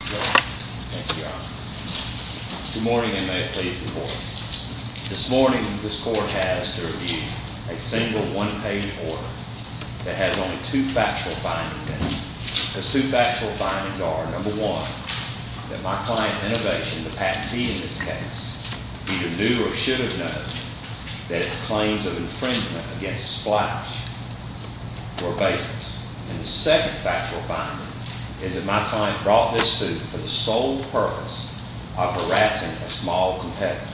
Good morning and may it please the court. This morning this court has to review a single one-page order that has only two factual findings in it. Those two factual findings are, number one, that my client Innovation, the patentee in this case, either knew or should have known that its claims of infringement against Splash were baseless. And the second factual finding is that my client brought this suit for the sole purpose of harassing a small competitor.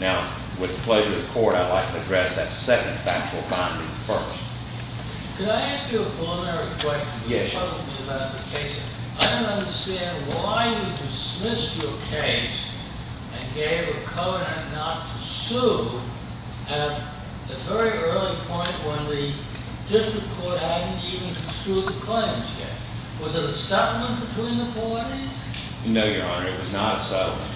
Now, with the pleasure of the court, I'd like to address that second factual finding first. Could I ask you a preliminary question? Yes. I don't understand why you dismissed your case and gave a covenant not to sue at a very early point when the district court hadn't even construed the claims yet. Was it a settlement between the parties? No, Your Honor, it was not a settlement.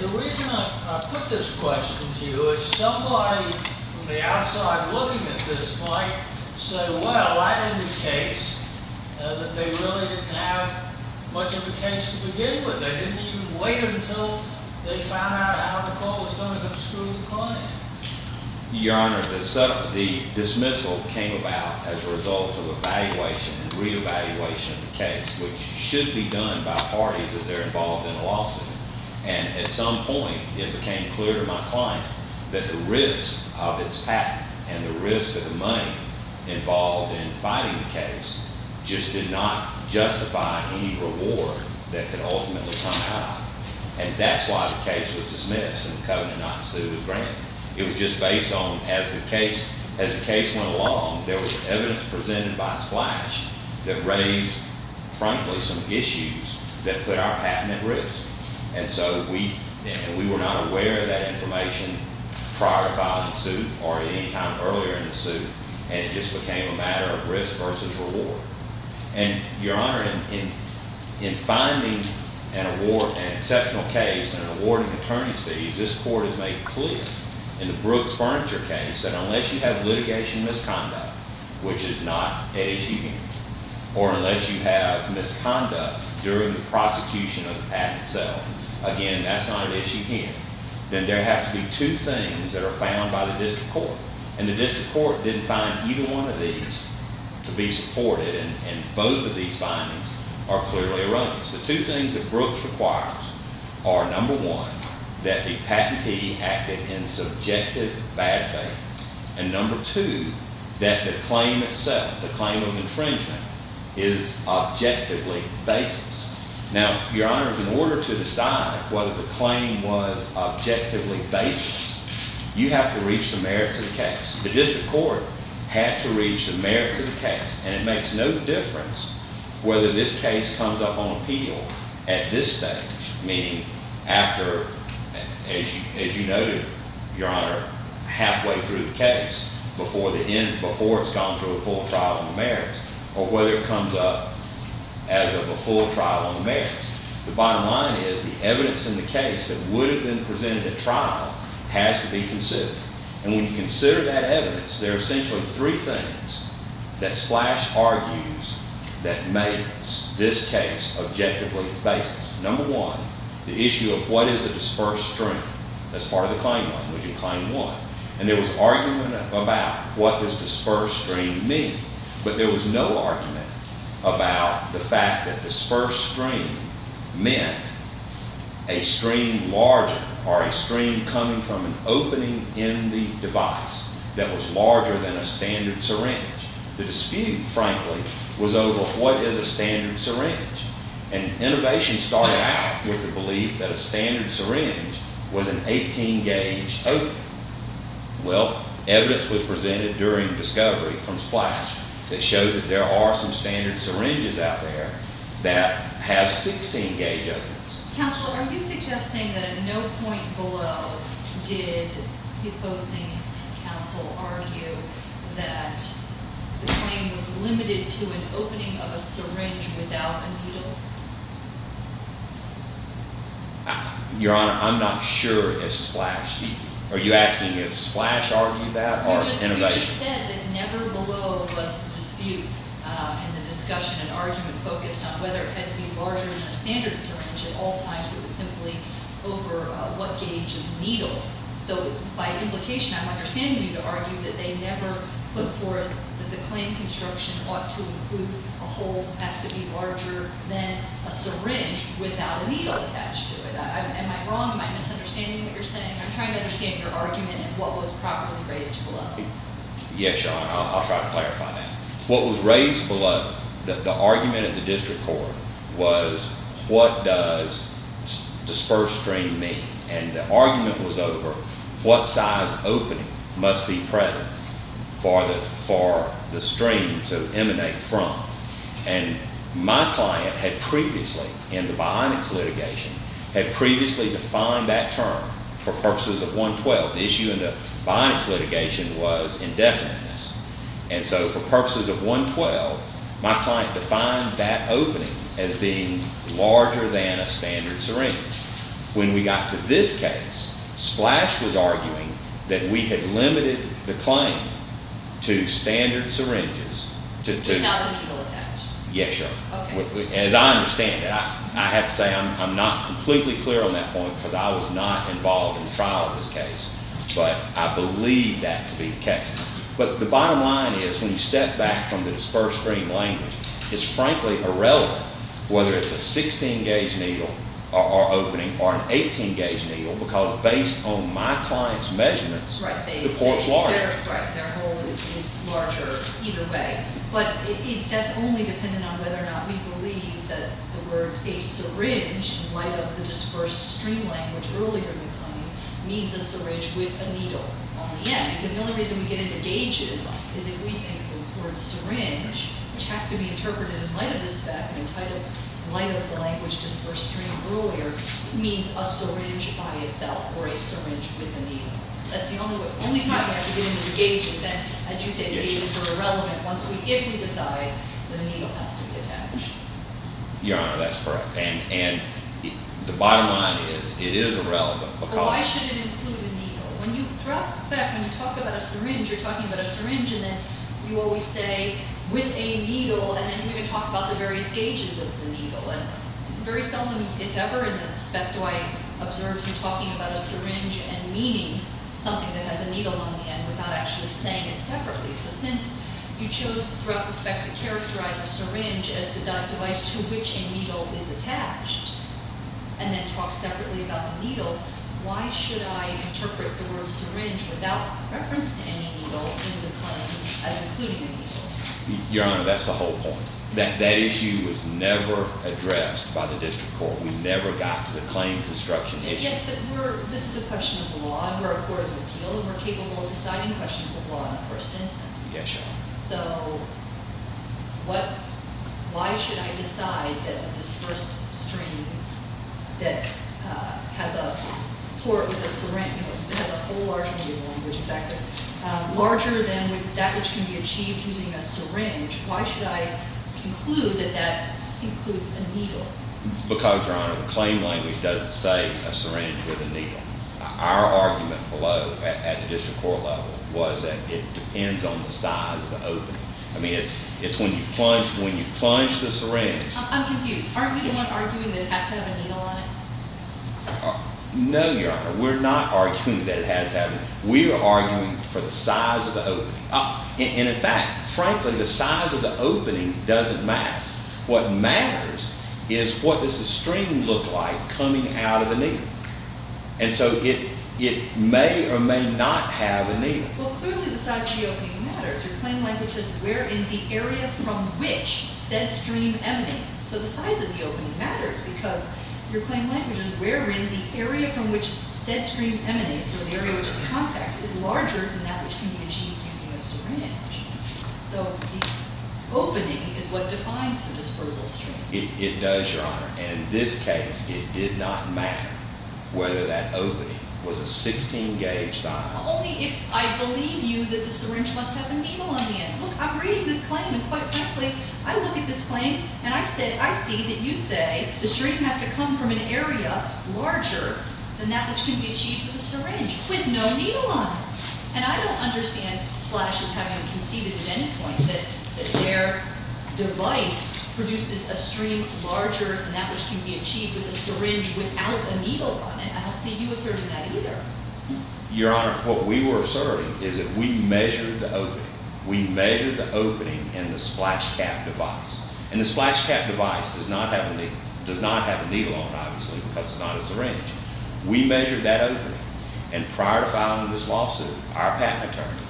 The reason I put this question to you is somebody from the outside looking at this point said, well, I had a case that they really didn't have much of a case to begin with. They didn't even wait until they found out how the court was going to construe the claim. Your Honor, the dismissal came about as a result of evaluation and reevaluation of the case, which should be done by parties as they're involved in a lawsuit. And at some point it became clear to my client that the risk of its patent and the risk of the money involved in fighting the case just did not justify any reward that could ultimately come out. And that's why the case was dismissed and the covenant not to sue was granted. It was just based on, as the case went along, there was evidence presented by Splash that raised, frankly, some issues that put our patent at risk. And so we were not aware of that information prior to filing suit or at any time earlier in the suit, and it just became a matter of risk versus reward. And, Your Honor, in finding an exceptional case and awarding attorney's fees, this court has made clear in the Brooks Furniture case that unless you have litigation misconduct, which is not an issue here, or unless you have misconduct during the prosecution of the patent itself, again, that's not an issue here, then there have to be two things that are found by the district court. And the district court didn't find either one of these to be supported, and both of these findings are clearly erroneous. The two things that Brooks requires are, number one, that the patentee acted in subjective bad faith, and number two, that the claim itself, the claim of infringement, is objectively baseless. Now, Your Honor, in order to decide whether the claim was objectively baseless, you have to reach the merits of the case. The district court had to reach the merits of the case, and it makes no difference whether this case comes up on appeal at this stage, meaning after, as you noted, Your Honor, halfway through the case, before the end, before it's gone through a full trial on the merits, or whether it comes up as of a full trial on the merits. The bottom line is the evidence in the case that would have been presented at trial has to be considered. And when you consider that evidence, there are essentially three things that Splash argues that makes this case objectively baseless. Number one, the issue of what is a dispersed stream as part of the claim language in Claim 1. And there was argument about what does dispersed stream mean, but there was no argument about the fact that dispersed stream meant a stream larger or a stream coming from an opening in the device that was larger than a standard syringe. The dispute, frankly, was over what is a standard syringe. And innovation started out with the belief that a standard syringe was an 18-gauge opening. Well, evidence was presented during discovery from Splash that showed that there are some standard syringes out there that have 16-gauge openings. Counsel, are you suggesting that at no point below did the opposing counsel argue that the claim was limited to an opening of a syringe without a needle? Your Honor, I'm not sure if Splash—are you asking if Splash argued that or innovation? We just said that never below was the dispute in the discussion and argument focused on whether it had to be larger than a standard syringe. At all times, it was simply over what gauge of needle. So by implication, I'm understanding you to argue that they never put forth that the claim construction ought to include a hole that has to be larger than a syringe without a needle attached to it. Am I wrong? Am I misunderstanding what you're saying? I'm trying to understand your argument and what was properly raised below. Yes, Your Honor. I'll try to clarify that. What was raised below, the argument of the district court, was what does disperse stream mean? And the argument was over what size opening must be present for the stream to emanate from. And my client had previously, in the Bionics litigation, had previously defined that term for purposes of 112. The issue in the Bionics litigation was indefiniteness. And so for purposes of 112, my client defined that opening as being larger than a standard syringe. When we got to this case, Splash was arguing that we had limited the claim to standard syringes to two. Without a needle attached. Yes, Your Honor. Okay. As I understand it, I have to say I'm not completely clear on that point because I was not involved in the trial of this case. But I believe that to be the case. But the bottom line is when you step back from the disperse stream language, it's frankly irrelevant whether it's a 16-gauge needle or opening or an 18-gauge needle because based on my client's measurements, the port's larger. Right. Their hole is larger either way. But that's only dependent on whether or not we believe that the word a syringe, in light of the disperse stream language earlier in the claim, means a syringe with a needle on the end. Because the only reason we get into gauges is if we get into the word syringe, which has to be interpreted in light of the spec and entitled in light of the language disperse stream earlier, means a syringe by itself or a syringe with a needle. That's the only way. Only time we have to get into the gauges. As you say, the gauges are irrelevant if we decide that a needle has to be attached. Your Honor, that's correct. And the bottom line is it is irrelevant. But why should it include a needle? When you, throughout the spec, when you talk about a syringe, you're talking about a syringe and then you always say with a needle and then you even talk about the various gauges of the needle. And very seldom if ever in the spec do I observe you talking about a syringe and meaning something that has a needle on the end without actually saying it separately. So since you chose throughout the spec to characterize a syringe as the device to which a needle is attached and then talk separately about the needle, why should I interpret the word syringe without reference to any needle in the claim as including a needle? Your Honor, that's the whole point. That issue was never addressed by the district court. We never got to the claim construction issue. Yes, but we're, this is a question of law and we're a court of appeal and we're capable of deciding questions of law in the first instance. Yes, Your Honor. So what, why should I decide that this first stream that has a port with a syringe, you know, it has a whole large needle on it, larger than that which can be achieved using a syringe, why should I conclude that that includes a needle? Because, Your Honor, the claim language doesn't say a syringe with a needle. Our argument below at the district court level was that it depends on the size of the opening. I mean, it's when you plunge, when you plunge the syringe. I'm confused. Aren't we the one arguing that it has to have a needle on it? No, Your Honor. We're not arguing that it has to have a needle. We're arguing for the size of the opening. And in fact, frankly, the size of the opening doesn't matter. What matters is what does the stream look like coming out of the needle? And so it may or may not have a needle. Well, clearly the size of the opening matters. Your claim language is wherein the area from which said stream emanates. So the size of the opening matters because your claim language is wherein the area from which said stream emanates, or the area which is context, is larger than that which can be achieved using a syringe. So the opening is what defines the dispersal stream. It does, Your Honor. And in this case, it did not matter whether that opening was a 16-gauge size. Only if I believe you that the syringe must have a needle on the end. Look, I'm reading this claim, and quite frankly, I look at this claim, and I see that you say the stream has to come from an area larger than that which can be achieved with a syringe with no needle on it. And I don't understand Splash's having conceded at any point that their device produces a stream larger than that which can be achieved with a syringe without a needle on it. I don't see you asserting that either. Your Honor, what we were asserting is that we measured the opening. We measured the opening in the Splash Cap device. And the Splash Cap device does not have a needle on it, obviously, because it's not a syringe. We measured that opening. And prior to filing this lawsuit, our patent attorney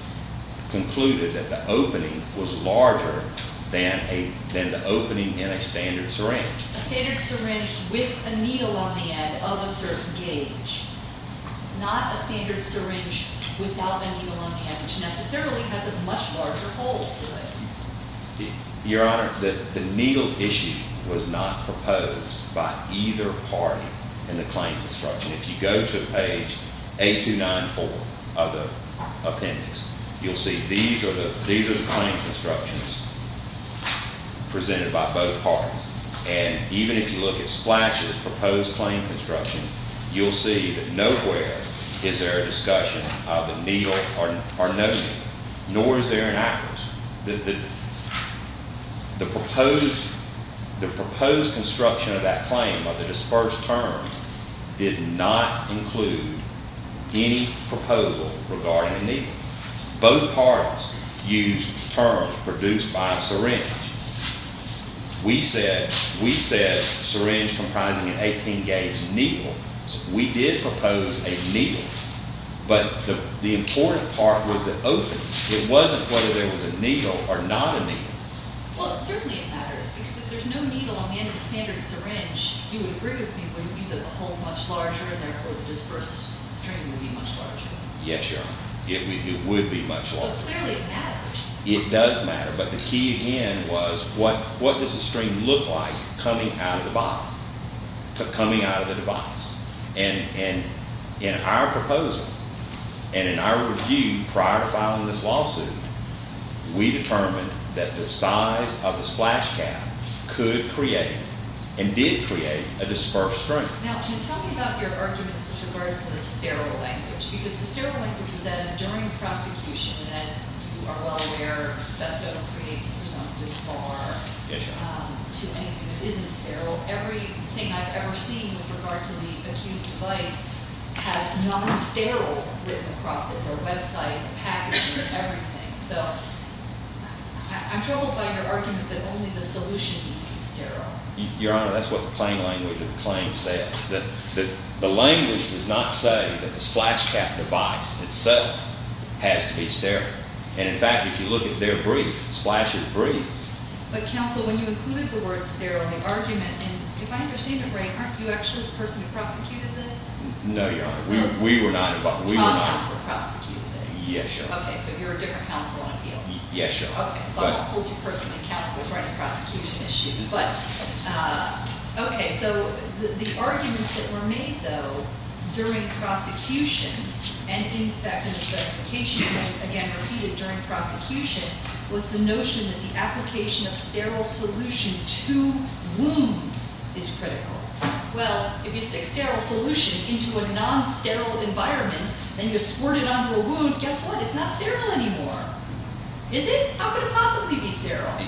concluded that the opening was larger than the opening in a standard syringe. A standard syringe with a needle on the end of a certain gauge, not a standard syringe without a needle on the end, which necessarily has a much larger hole to it. Your Honor, the needle issue was not proposed by either party in the claim construction. If you go to page 8294 of the appendix, you'll see these are the claim constructions presented by both parties. And even if you look at Splash's proposed claim construction, you'll see that nowhere is there a discussion of a needle or no needle, nor is there an aqueous. The proposed construction of that claim, of the dispersed term, did not include any proposal regarding a needle. Both parties used terms produced by a syringe. We said syringe comprising an 18-gauge needle. We did propose a needle. But the important part was the opening. It wasn't whether there was a needle or not a needle. Well, certainly it matters, because if there's no needle on the end of a standard syringe, you would agree with me that the hole's much larger in there, or the dispersed stream would be much larger. Yes, Your Honor. It would be much larger. But clearly it matters. It does matter. But the key, again, was what does the stream look like coming out of the bottle, coming out of the device? And in our proposal and in our review prior to filing this lawsuit, we determined that the size of the splash cap could create and did create a dispersed stream. Now, can you tell me about your arguments with regards to the sterile language? Because the sterile language was added during prosecution, and as you are well aware, Festo creates a presumptive bar to anything that isn't sterile. Everything I've ever seen with regard to the accused device has non-sterile written across it, their website, the packaging, everything. So I'm troubled by your argument that only the solution needs to be sterile. Your Honor, that's what the plain language of the claim says. The language does not say that the splash cap device itself has to be sterile. And in fact, if you look at their brief, the splash is brief. But, counsel, when you included the word sterile in the argument, and if I understand it right, aren't you actually the person who prosecuted this? No, Your Honor. We were not. I'm the one who prosecuted it. Yes, Your Honor. Yes, Your Honor. Okay, so I won't hold you personally accountable for any prosecution issues. But, okay, so the arguments that were made, though, during prosecution, and in fact in the specification, again, repeated during prosecution, was the notion that the application of sterile solution to wounds is critical. Well, if you stick sterile solution into a non-sterile environment, then you squirt it onto a wound, guess what? It's not sterile anymore. Is it? How could it possibly be sterile?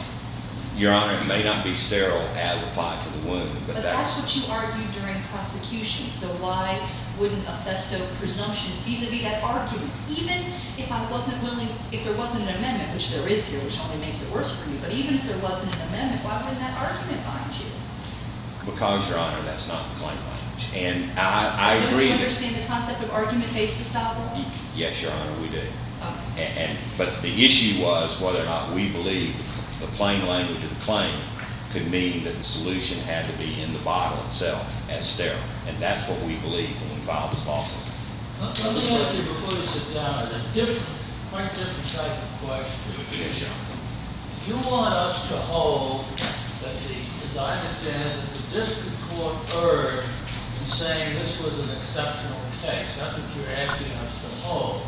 Your Honor, it may not be sterile as applied to the wound. But that's what you argued during prosecution. So why wouldn't a Festo presumption vis-a-vis that argument? Even if I wasn't willing, if there wasn't an amendment, which there is here, which only makes it worse for me, but even if there wasn't an amendment, why wouldn't that argument bind you? Because, Your Honor, that's not the plain language. And I agree that… Do you understand the concept of argument-based estoppel? Yes, Your Honor, we do. But the issue was whether or not we believe the plain language of the claim could mean that the solution had to be in the bottle itself as sterile. And that's what we believe when we filed this lawsuit. Let me ask you before you sit down a different, quite different type of question. Yes, Your Honor. You want us to hold that the, as I understand it, the district court urged in saying this was an exceptional case. That's what you're asking us to hold.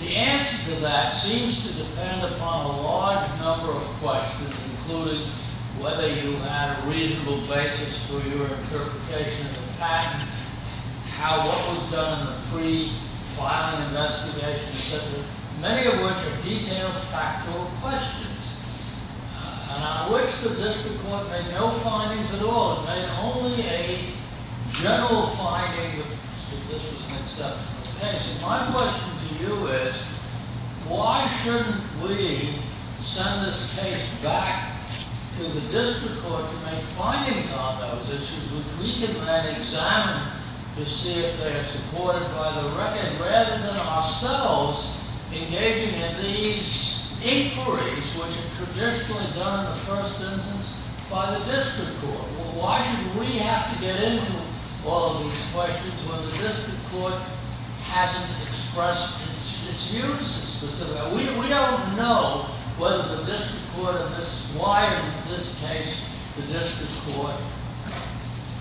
The answer to that seems to depend upon a large number of questions, including whether you had a reasonable basis for your interpretation of the patent, what was done in the pre-filing investigation, many of which are detailed, factual questions, and on which the district court made no findings at all. It made only a general finding that this was an exceptional case. And my question to you is, why shouldn't we send this case back to the district court to make findings on those issues which we can then examine to see if they are supported by the record, rather than ourselves engaging in these inquiries, which are traditionally done in the first instance by the district court. Why should we have to get into all of these questions when the district court hasn't expressed its views as specific? We don't know whether the district court, why in this case the district court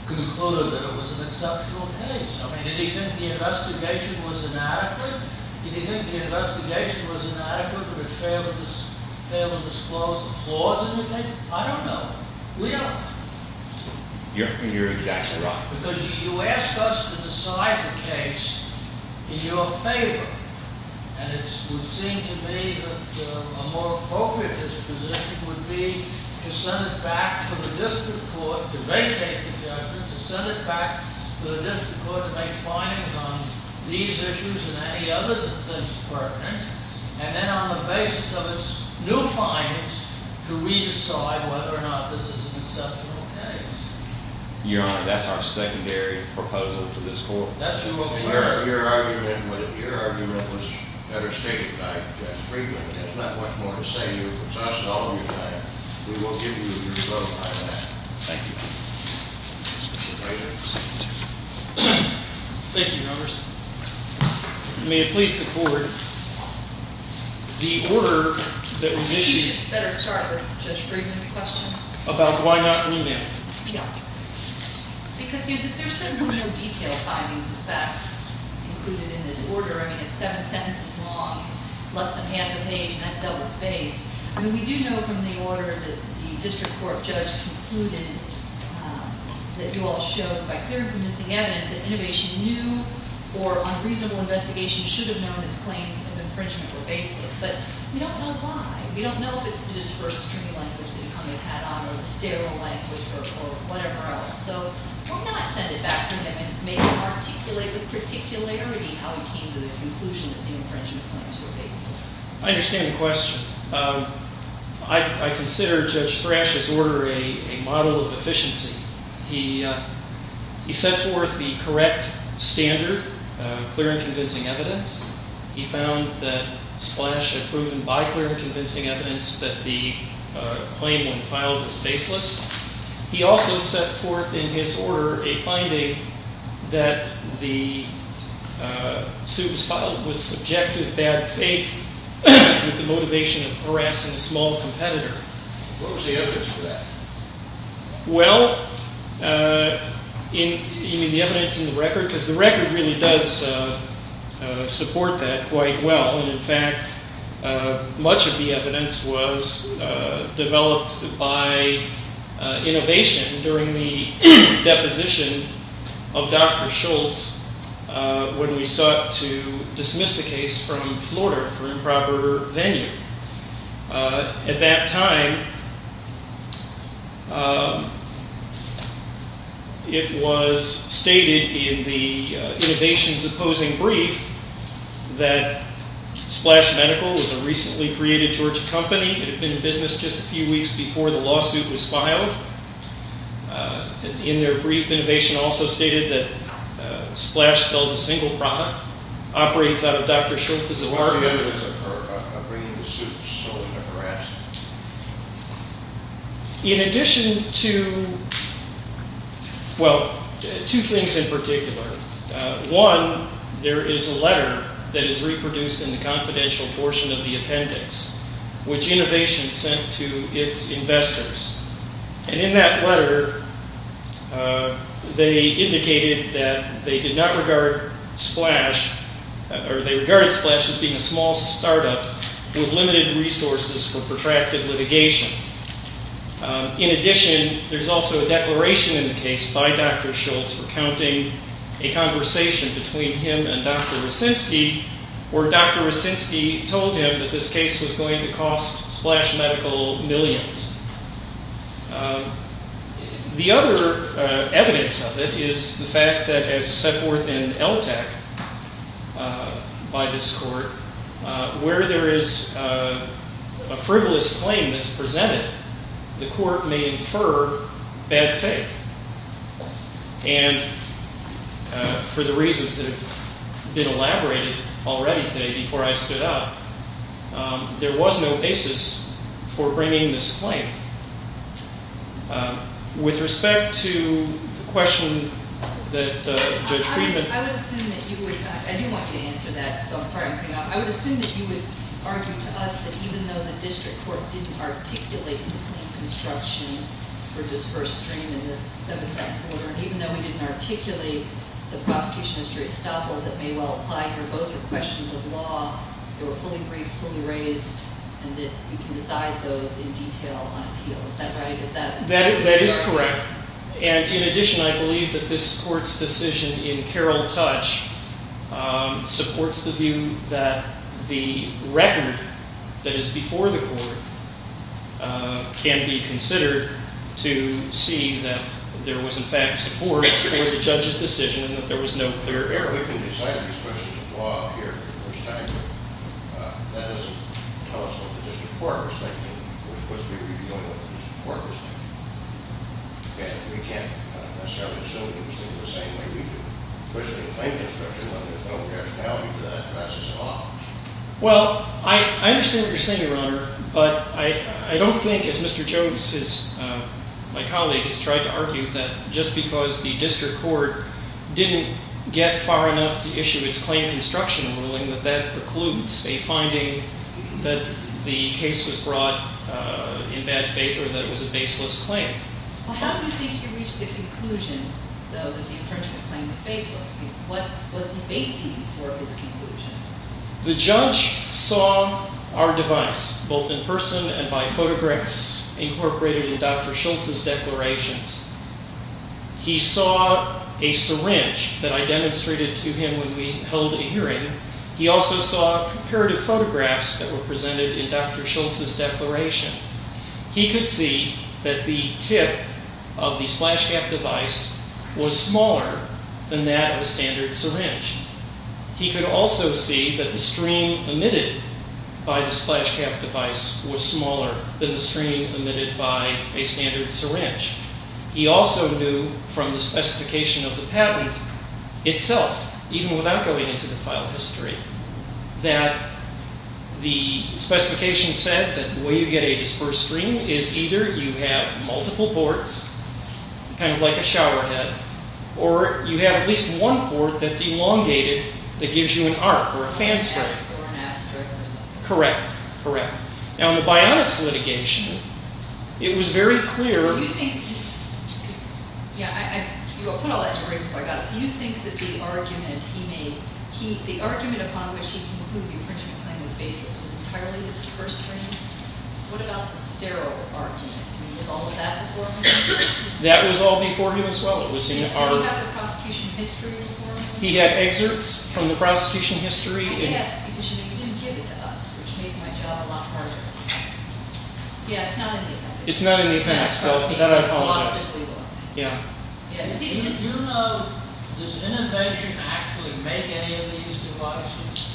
concluded that it was an exceptional case. I mean, did he think the investigation was inadequate? Did he think the investigation was inadequate or it failed to disclose the flaws in the case? I don't know. We don't know. You're exactly right. Because you asked us to decide the case in your favor, and it would seem to me that a more appropriate disposition would be to send it back to the district court to vacate the judgment, to send it back to the district court to make findings on these issues and any others of things pertinent, and then on the basis of its new findings, to re-decide whether or not this is an exceptional case. Your Honor, that's our secondary proposal to this court. That's your argument. Your argument was better stated. I agree with it. There's not much more to say. You've exhausted all of your time. We will give you your vote on that. Thank you. Thank you, members. May it please the Court, the order that was issued. I think you should better start with Judge Friedman's question. About why not remand? Yeah. Because there's certainly no detailed findings of fact included in this order. I mean, it's seven sentences long, less than half a page, and that's double-spaced. I mean, we do know from the order that the district court judge concluded that you all showed by clear and convincing evidence that an innovation new or unreasonable investigation should have known its claims of infringement were baseless. But we don't know why. We don't know if it's the disbursed string language that Cummings had on or the sterile language or whatever else. So why not send it back to him and maybe articulate with particularity how he came to the conclusion that the infringement claims were baseless? I understand the question. I consider Judge Frasch's order a model of efficiency. He set forth the correct standard, clear and convincing evidence. He found that Splash had proven by clear and convincing evidence that the claim when filed was baseless. He also set forth in his order a finding that the suit was filed with subjective bad faith with the motivation of harassing a small competitor. What was the evidence for that? Well, you mean the evidence in the record? Because the record really does support that quite well. In fact, much of the evidence was developed by innovation during the deposition of Dr. Schultz when we sought to dismiss the case from Florida for improper venue. At that time, it was stated in the innovation's opposing brief that Splash Medical was a recently created Georgia company that had been in business just a few weeks before the lawsuit was filed. In their brief, innovation also stated that Splash sells a single product, operates out of Dr. Schultz's order. What's the evidence of her bringing the suit solely to harass? In addition to, well, two things in particular. One, there is a letter that is reproduced in the confidential portion of the appendix which innovation sent to its investors. And in that letter, they indicated that they did not regard Splash or they regarded Splash as being a small startup with limited resources for protracted litigation. In addition, there's also a declaration in the case by Dr. Schultz recounting a conversation between him and Dr. Racinski where Dr. Racinski told him that this case was going to cost Splash Medical millions. The other evidence of it is the fact that as set forth in LTAC by this court, where there is a frivolous claim that's presented, the court may infer bad faith. And for the reasons that have been elaborated already today before I stood up, there was no basis for bringing this claim. With respect to the question that Judge Friedman... I would assume that you would... I do want you to answer that, so I'm sorry I'm cutting off. I would assume that you would argue to us that even though the district court didn't articulate in the claim construction for disbursed stream in this Seventh Amendment order, and even though we didn't articulate the prosecution of Street Estoppel that may well apply here, both are questions of law that were fully briefed, fully raised, and that you can decide those in detail on appeal. Is that right? That is correct. And in addition, I believe that this court's decision in Carroll Touch supports the view that the record that is before the court can be considered to see that there was in fact support for the judge's decision and that there was no clear error. We can decide on these questions of law here, but that doesn't tell us what the district court was thinking. We're supposed to be reviewing what the district court was thinking. And we can't necessarily assume that they were thinking the same way we do, especially in the claim construction, when there's no rationality to that process at all. Well, I understand what you're saying, Your Honor, but I don't think, as Mr. Jones, my colleague, has tried to argue, that just because the district court didn't get far enough to issue its claim construction ruling doesn't mean that that precludes a finding that the case was brought in bad faith or that it was a baseless claim. Well, how do you think he reached the conclusion, though, that the infringement claim was baseless? What was the basis for his conclusion? The judge saw our device, both in person and by photographs, incorporated in Dr. Schultz's declarations. He saw a syringe that I demonstrated to him when we held a hearing. He also saw comparative photographs that were presented in Dr. Schultz's declaration. He could see that the tip of the splash cap device was smaller than that of a standard syringe. He could also see that the stream emitted by the splash cap device was smaller than the stream emitted by a standard syringe. He also knew from the specification of the patent itself, even without going into the file history, that the specification said that the way you get a dispersed stream is either you have multiple boards, kind of like a showerhead, or you have at least one board that's elongated that gives you an arc or a fan string. Correct, correct. Now, in the Bionics litigation, it was very clear... Do you think... Yeah, I put all that together before I got this. Do you think that the argument he made, the argument upon which he concluded the infringement claim was baseless was entirely the dispersed stream? What about the sterile argument? I mean, was all of that before him? That was all before him as well. Did he have the prosecution history before him? He had excerpts from the prosecution history. Yes, because you didn't give it to us, which made my job a lot harder. Yeah, it's not in the appendix. It's not in the appendix. That I apologize. Yeah. Do you know, does Innovation actually make any of these devices?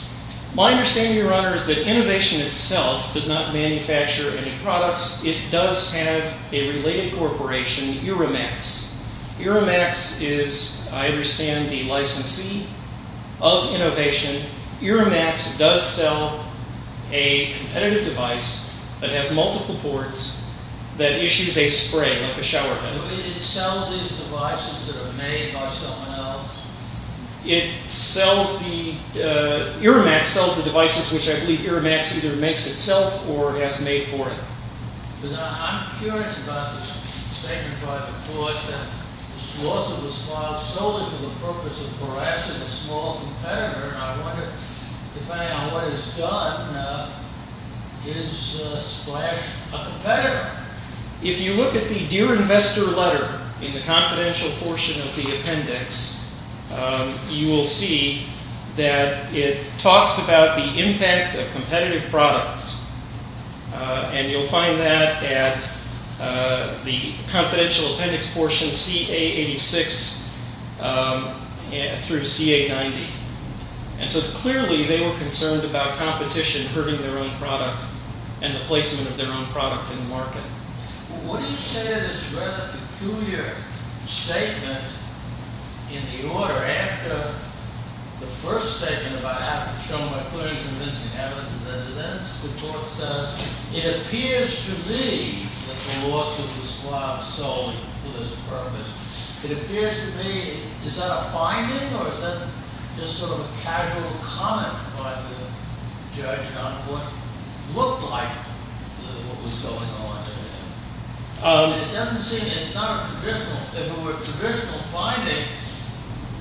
My understanding, Your Honor, is that Innovation itself does not manufacture any products. It does have a related corporation, Euromax. Euromax is, I understand, the licensee of Innovation. Euromax does sell a competitive device that has multiple ports that issues a spray, like a shower head. It sells these devices that are made by someone else? It sells the, Euromax sells the devices which I believe Euromax either makes itself or has made for it. I'm curious about the statement by the court that the slaughter was filed solely for the purpose of harassing a small competitor and I wonder, depending on what it's done, is Splash a competitor? If you look at the Dear Investor letter in the confidential portion of the appendix, you will see that it talks about the impact of competitive products and you'll find that at the confidential appendix portion CA86 through CA90. And so clearly they were concerned about competition hurting their own product and the placement of their own product in the market. What do you say to this rather peculiar statement in the order after the first statement about how to show my clearance and convincing evidence, the court says, it appears to me that the slaughter was filed solely for this purpose. It appears to me, is that a finding or is that just sort of a casual comment by the judge on what looked like what was going on? It doesn't seem, it's not a traditional, if it were a traditional finding,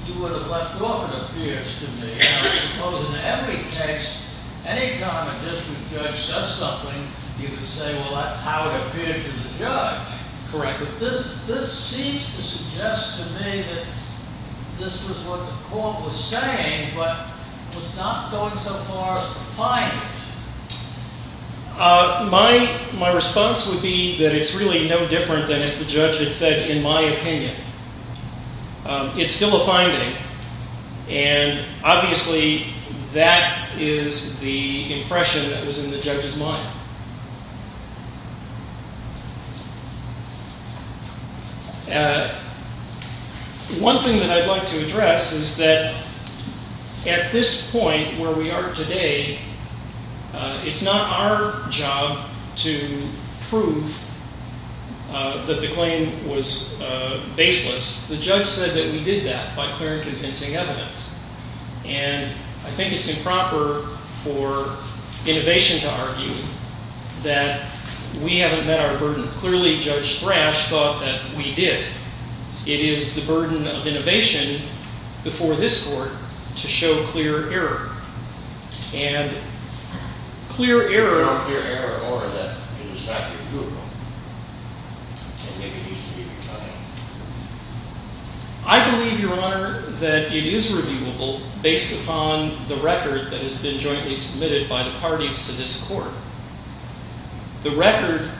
you would have left off it appears to me. I suppose in every case, any time a district judge says something, you can say, well, that's how it appeared to the judge. Correct. But this seems to suggest to me that this was what the court was saying but was not going so far as a finding. My response would be that it's really no different than if the judge had said, in my opinion, it's still a finding. Obviously, that is the impression that was in the judge's mind. One thing that I'd like to address is that at this point where we are today, it's not our job to prove that the claim was baseless. The judge said that we did that by clear and convincing evidence. And I think it's improper for innovation to argue that we haven't met our burden. Clearly, Judge Thrash thought that we did. It is the burden of innovation before this court to show clear error. And clear error. I believe, Your Honor, that it is reviewable based upon the record that has been jointly submitted by the parties to this court. The record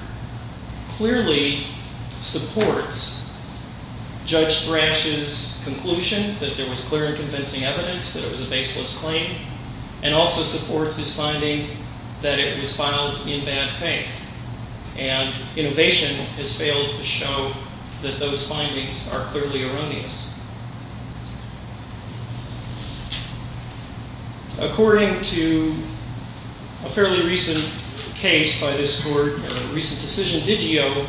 clearly supports Judge Thrash's conclusion that there was clear and convincing evidence that it was a baseless claim and also supports his finding that it was filed in bad faith. And innovation has failed to show that those findings are clearly erroneous. According to a fairly recent case by this court, a recent decision, Digio,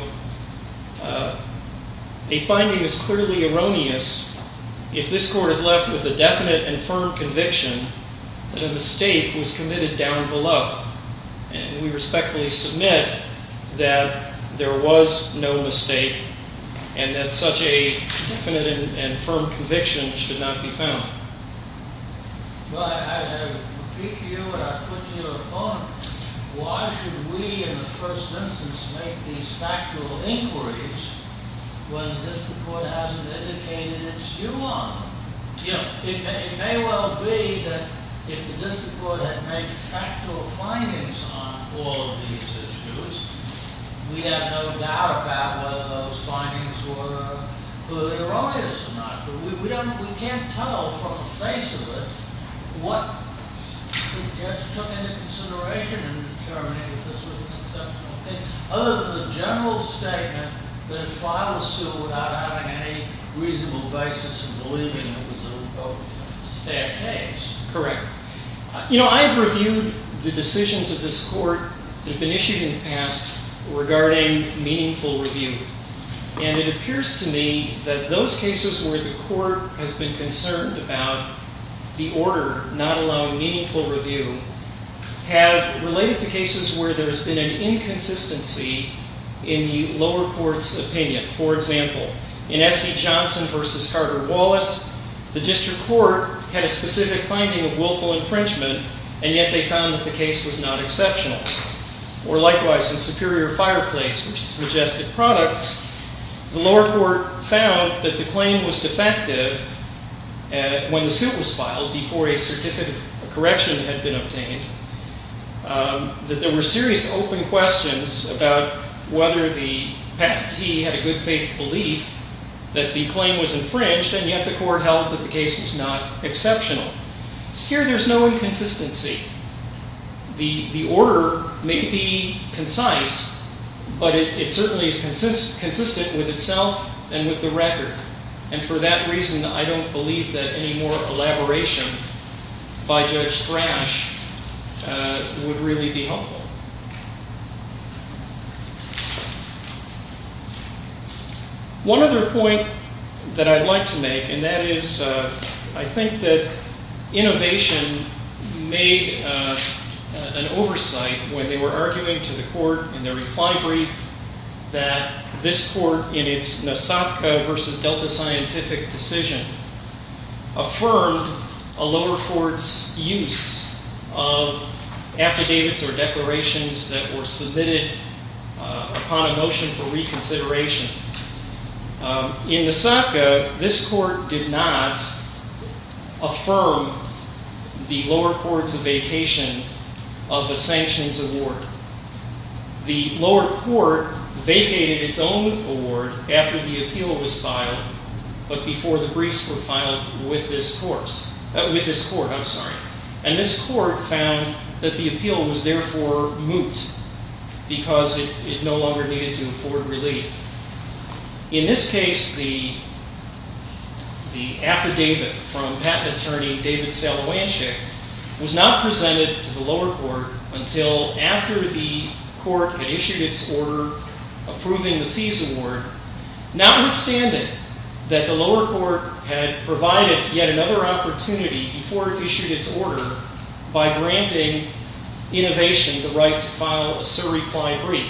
a finding is clearly erroneous if this court is left with a definite and firm conviction that a mistake was committed down below. And we respectfully submit that there was no mistake and that such a definite and firm conviction should not be found. Well, I repeat to you what I've put to you before. Why should we, in the first instance, make these factual inquiries when the district court hasn't indicated its view on them? It may well be that if the district court had made factual findings on all of these issues, we'd have no doubt about whether those findings were clearly erroneous or not. We can't tell from the face of it what the judge took into consideration in determining that this was an exceptional case other than the general statement that it filed a suit without having any reasonable basis in believing it was a, quote, you know, a bad case. Correct. You know, I've reviewed the decisions of this court that have been issued in the past regarding meaningful review. And it appears to me that those cases where the court has been concerned about the order not allowing meaningful review have related to cases where there's been an inconsistency in the lower court's opinion. For example, in S.E. Johnson v. Carter Wallace, the district court had a specific finding of willful infringement and yet they found that the case was not exceptional. Or likewise, in Superior Fireplace v. Majestic Products, the lower court found that the claim was defective when the suit was filed before a certificate of correction had been obtained, that there were serious open questions about whether the patentee had a good faith belief that the claim was infringed and yet the court held that the case was not exceptional. Here there's no inconsistency. The order may be concise, but it certainly is consistent with itself and with the record. And for that reason, I don't believe that any more elaboration by Judge Thrash would really be helpful. One other point that I'd like to make, and that is I think that Innovation made an oversight when they were arguing to the court in their reply brief that this court in its Nasabka v. Delta Scientific decision affirmed a lower court's use of affidavits or declarations that were submitted upon a motion for reconsideration. In Nasabka, this court did not affirm the lower court's vacation of a sanctions award. The lower court vacated its own award after the appeal was filed, but before the briefs were filed with this court. And this court found that the appeal was therefore moot because it no longer needed to afford relief. In this case, the affidavit from patent attorney David Salowanshik was not presented to the lower court until after the court had issued its order approving the fees award, notwithstanding that the lower court had provided yet another opportunity before it issued its order by granting Innovation the right to file a surreply brief.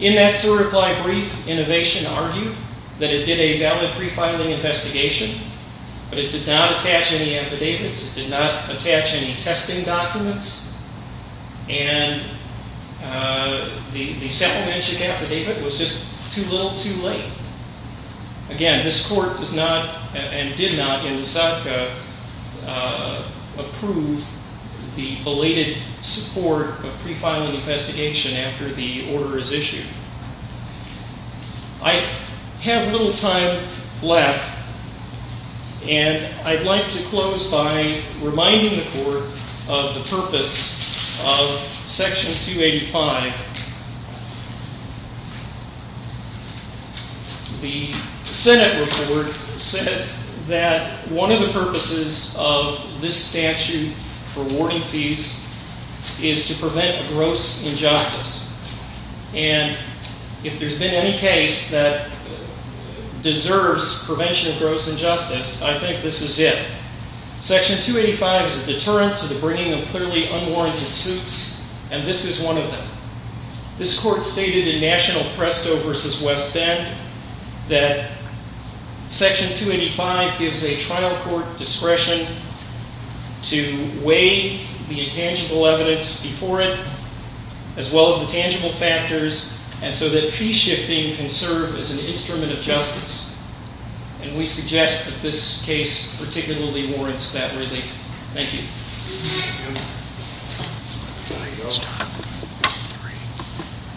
In that surreply brief, Innovation argued that it did a valid prefiling investigation, but it did not attach any affidavits. It did not attach any testing documents. And the Salowanshik affidavit was just too little, too late. Again, this court does not, and did not in Nasabka, approve the belated support of prefiling investigation after the order is issued. I have little time left, and I'd like to close by reminding the court of the purpose of Section 285. The Senate report said that one of the purposes of this statute for awarding fees is to prevent gross injustice. And if there's been any case that deserves prevention of gross injustice, I think this is it. Section 285 is a deterrent to the bringing of clearly unwarranted suits, and this is one of them. This court stated in National Presto v. West Bend that Section 285 gives a trial court discretion to weigh the intangible evidence before it, as well as the tangible factors, and so that fee shifting can serve as an instrument of justice. And we suggest that this case particularly warrants that relief. Thank you.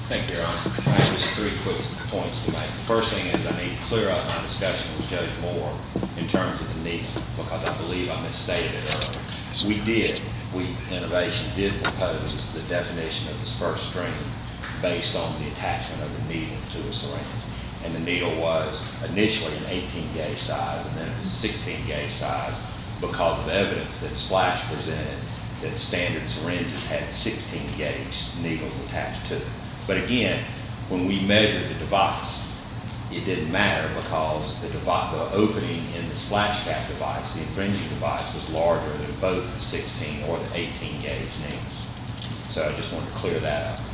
Thank you, Your Honor. I have just three quick points to make. The first thing is I need to clear up my discussion with Judge Moore in terms of the needle, because I believe I misstated it earlier. We did. Innovation did propose the definition of the first string based on the attachment of the needle to a syringe, and the needle was initially an 18-gauge size and then a 16-gauge size because of evidence that Splash presented that standard syringes had 16-gauge needles attached to them. But again, when we measured the device, it didn't matter because the opening in the Splash cap device, the infringing device, was larger than both the 16- or the 18-gauge needles. So I just wanted to clear that up.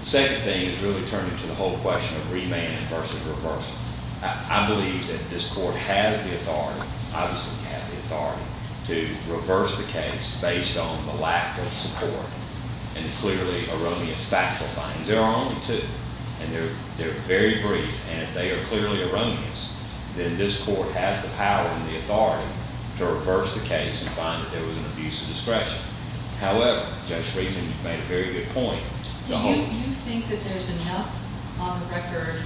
The second thing is really turning to the whole question of remand versus reversal. I believe that this court has the authority, obviously we have the authority, to reverse the case based on the lack of support and clearly erroneous factual findings. There are only two, and they're very brief, and if they are clearly erroneous, then this court has the power and the authority to reverse the case and find that there was an abuse of discretion. However, Judge Friedman, you've made a very good point. So you think that there's enough on the record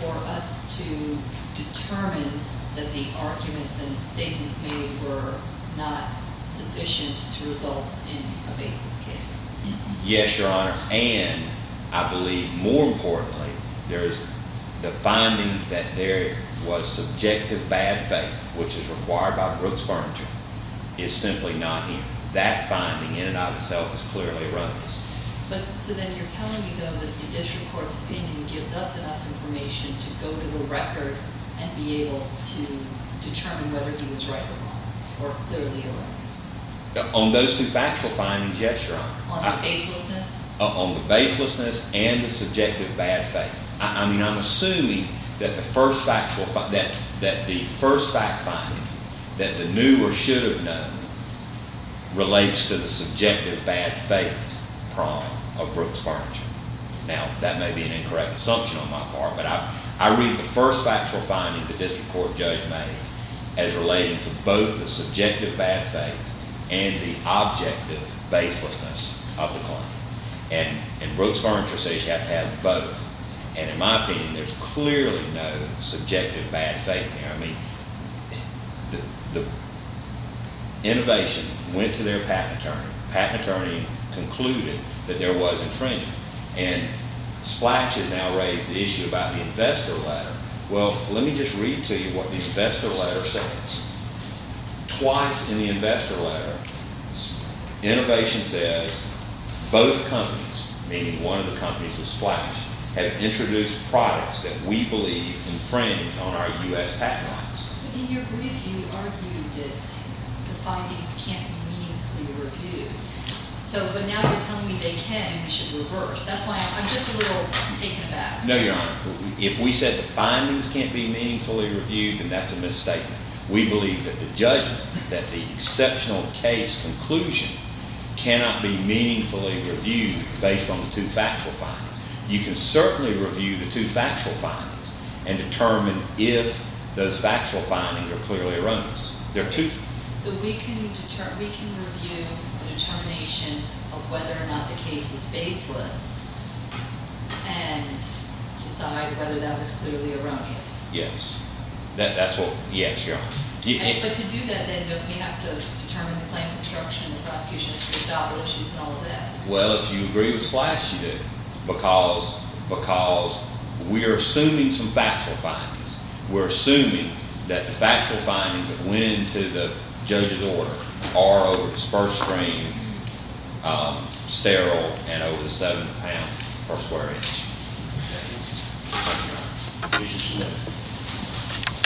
for us to determine that the arguments and statements made were not sufficient to result in a basis case? Yes, Your Honor, and I believe, more importantly, the finding that there was subjective bad faith, which is required by Brooks Furniture, is simply not here. That finding in and of itself is clearly erroneous. So then you're telling me, though, that the district court's opinion gives us enough information to go to the record and be able to determine whether he was right or wrong or clearly erroneous? On those two factual findings, yes, Your Honor. On the baselessness? On the baselessness and the subjective bad faith. I mean, I'm assuming that the first fact finding that the new or should have known relates to the subjective bad faith prong of Brooks Furniture. Now, that may be an incorrect assumption on my part, but I read the first factual finding the district court judge made as relating to both the subjective bad faith and the objective baselessness of the claim. And Brooks Furniture says you have to have both. And in my opinion, there's clearly no subjective bad faith there. I mean, the innovation went to their patent attorney. The patent attorney concluded that there was infringement. And Splash has now raised the issue about the investor letter. Well, let me just read to you what the investor letter says. Twice in the investor letter, innovation says both companies, meaning one of the companies with Splash, have introduced products that we believe infringe on our U.S. patent rights. But in your brief, you argued that the findings can't be meaningfully reviewed. But now you're telling me they can and we should reverse. That's why I'm just a little taken aback. No, Your Honor. If we said the findings can't be meaningfully reviewed, then that's a misstatement. We believe that the judgment, that the exceptional case conclusion, cannot be meaningfully reviewed based on the two factual findings. You can certainly review the two factual findings and determine if those factual findings are clearly erroneous. So we can review the determination of whether or not the case is baseless and decide whether that was clearly erroneous. Yes. But to do that, then don't we have to determine the claim of destruction and the prosecution has to adopt those issues and all of that? Well, if you agree with Splash, you do. Because we are assuming some factual findings. We're assuming that the factual findings that went into the judge's order are over the first screen, sterile, and over the 7th of a pound per square inch. Thank you, Your Honor. The case is submitted.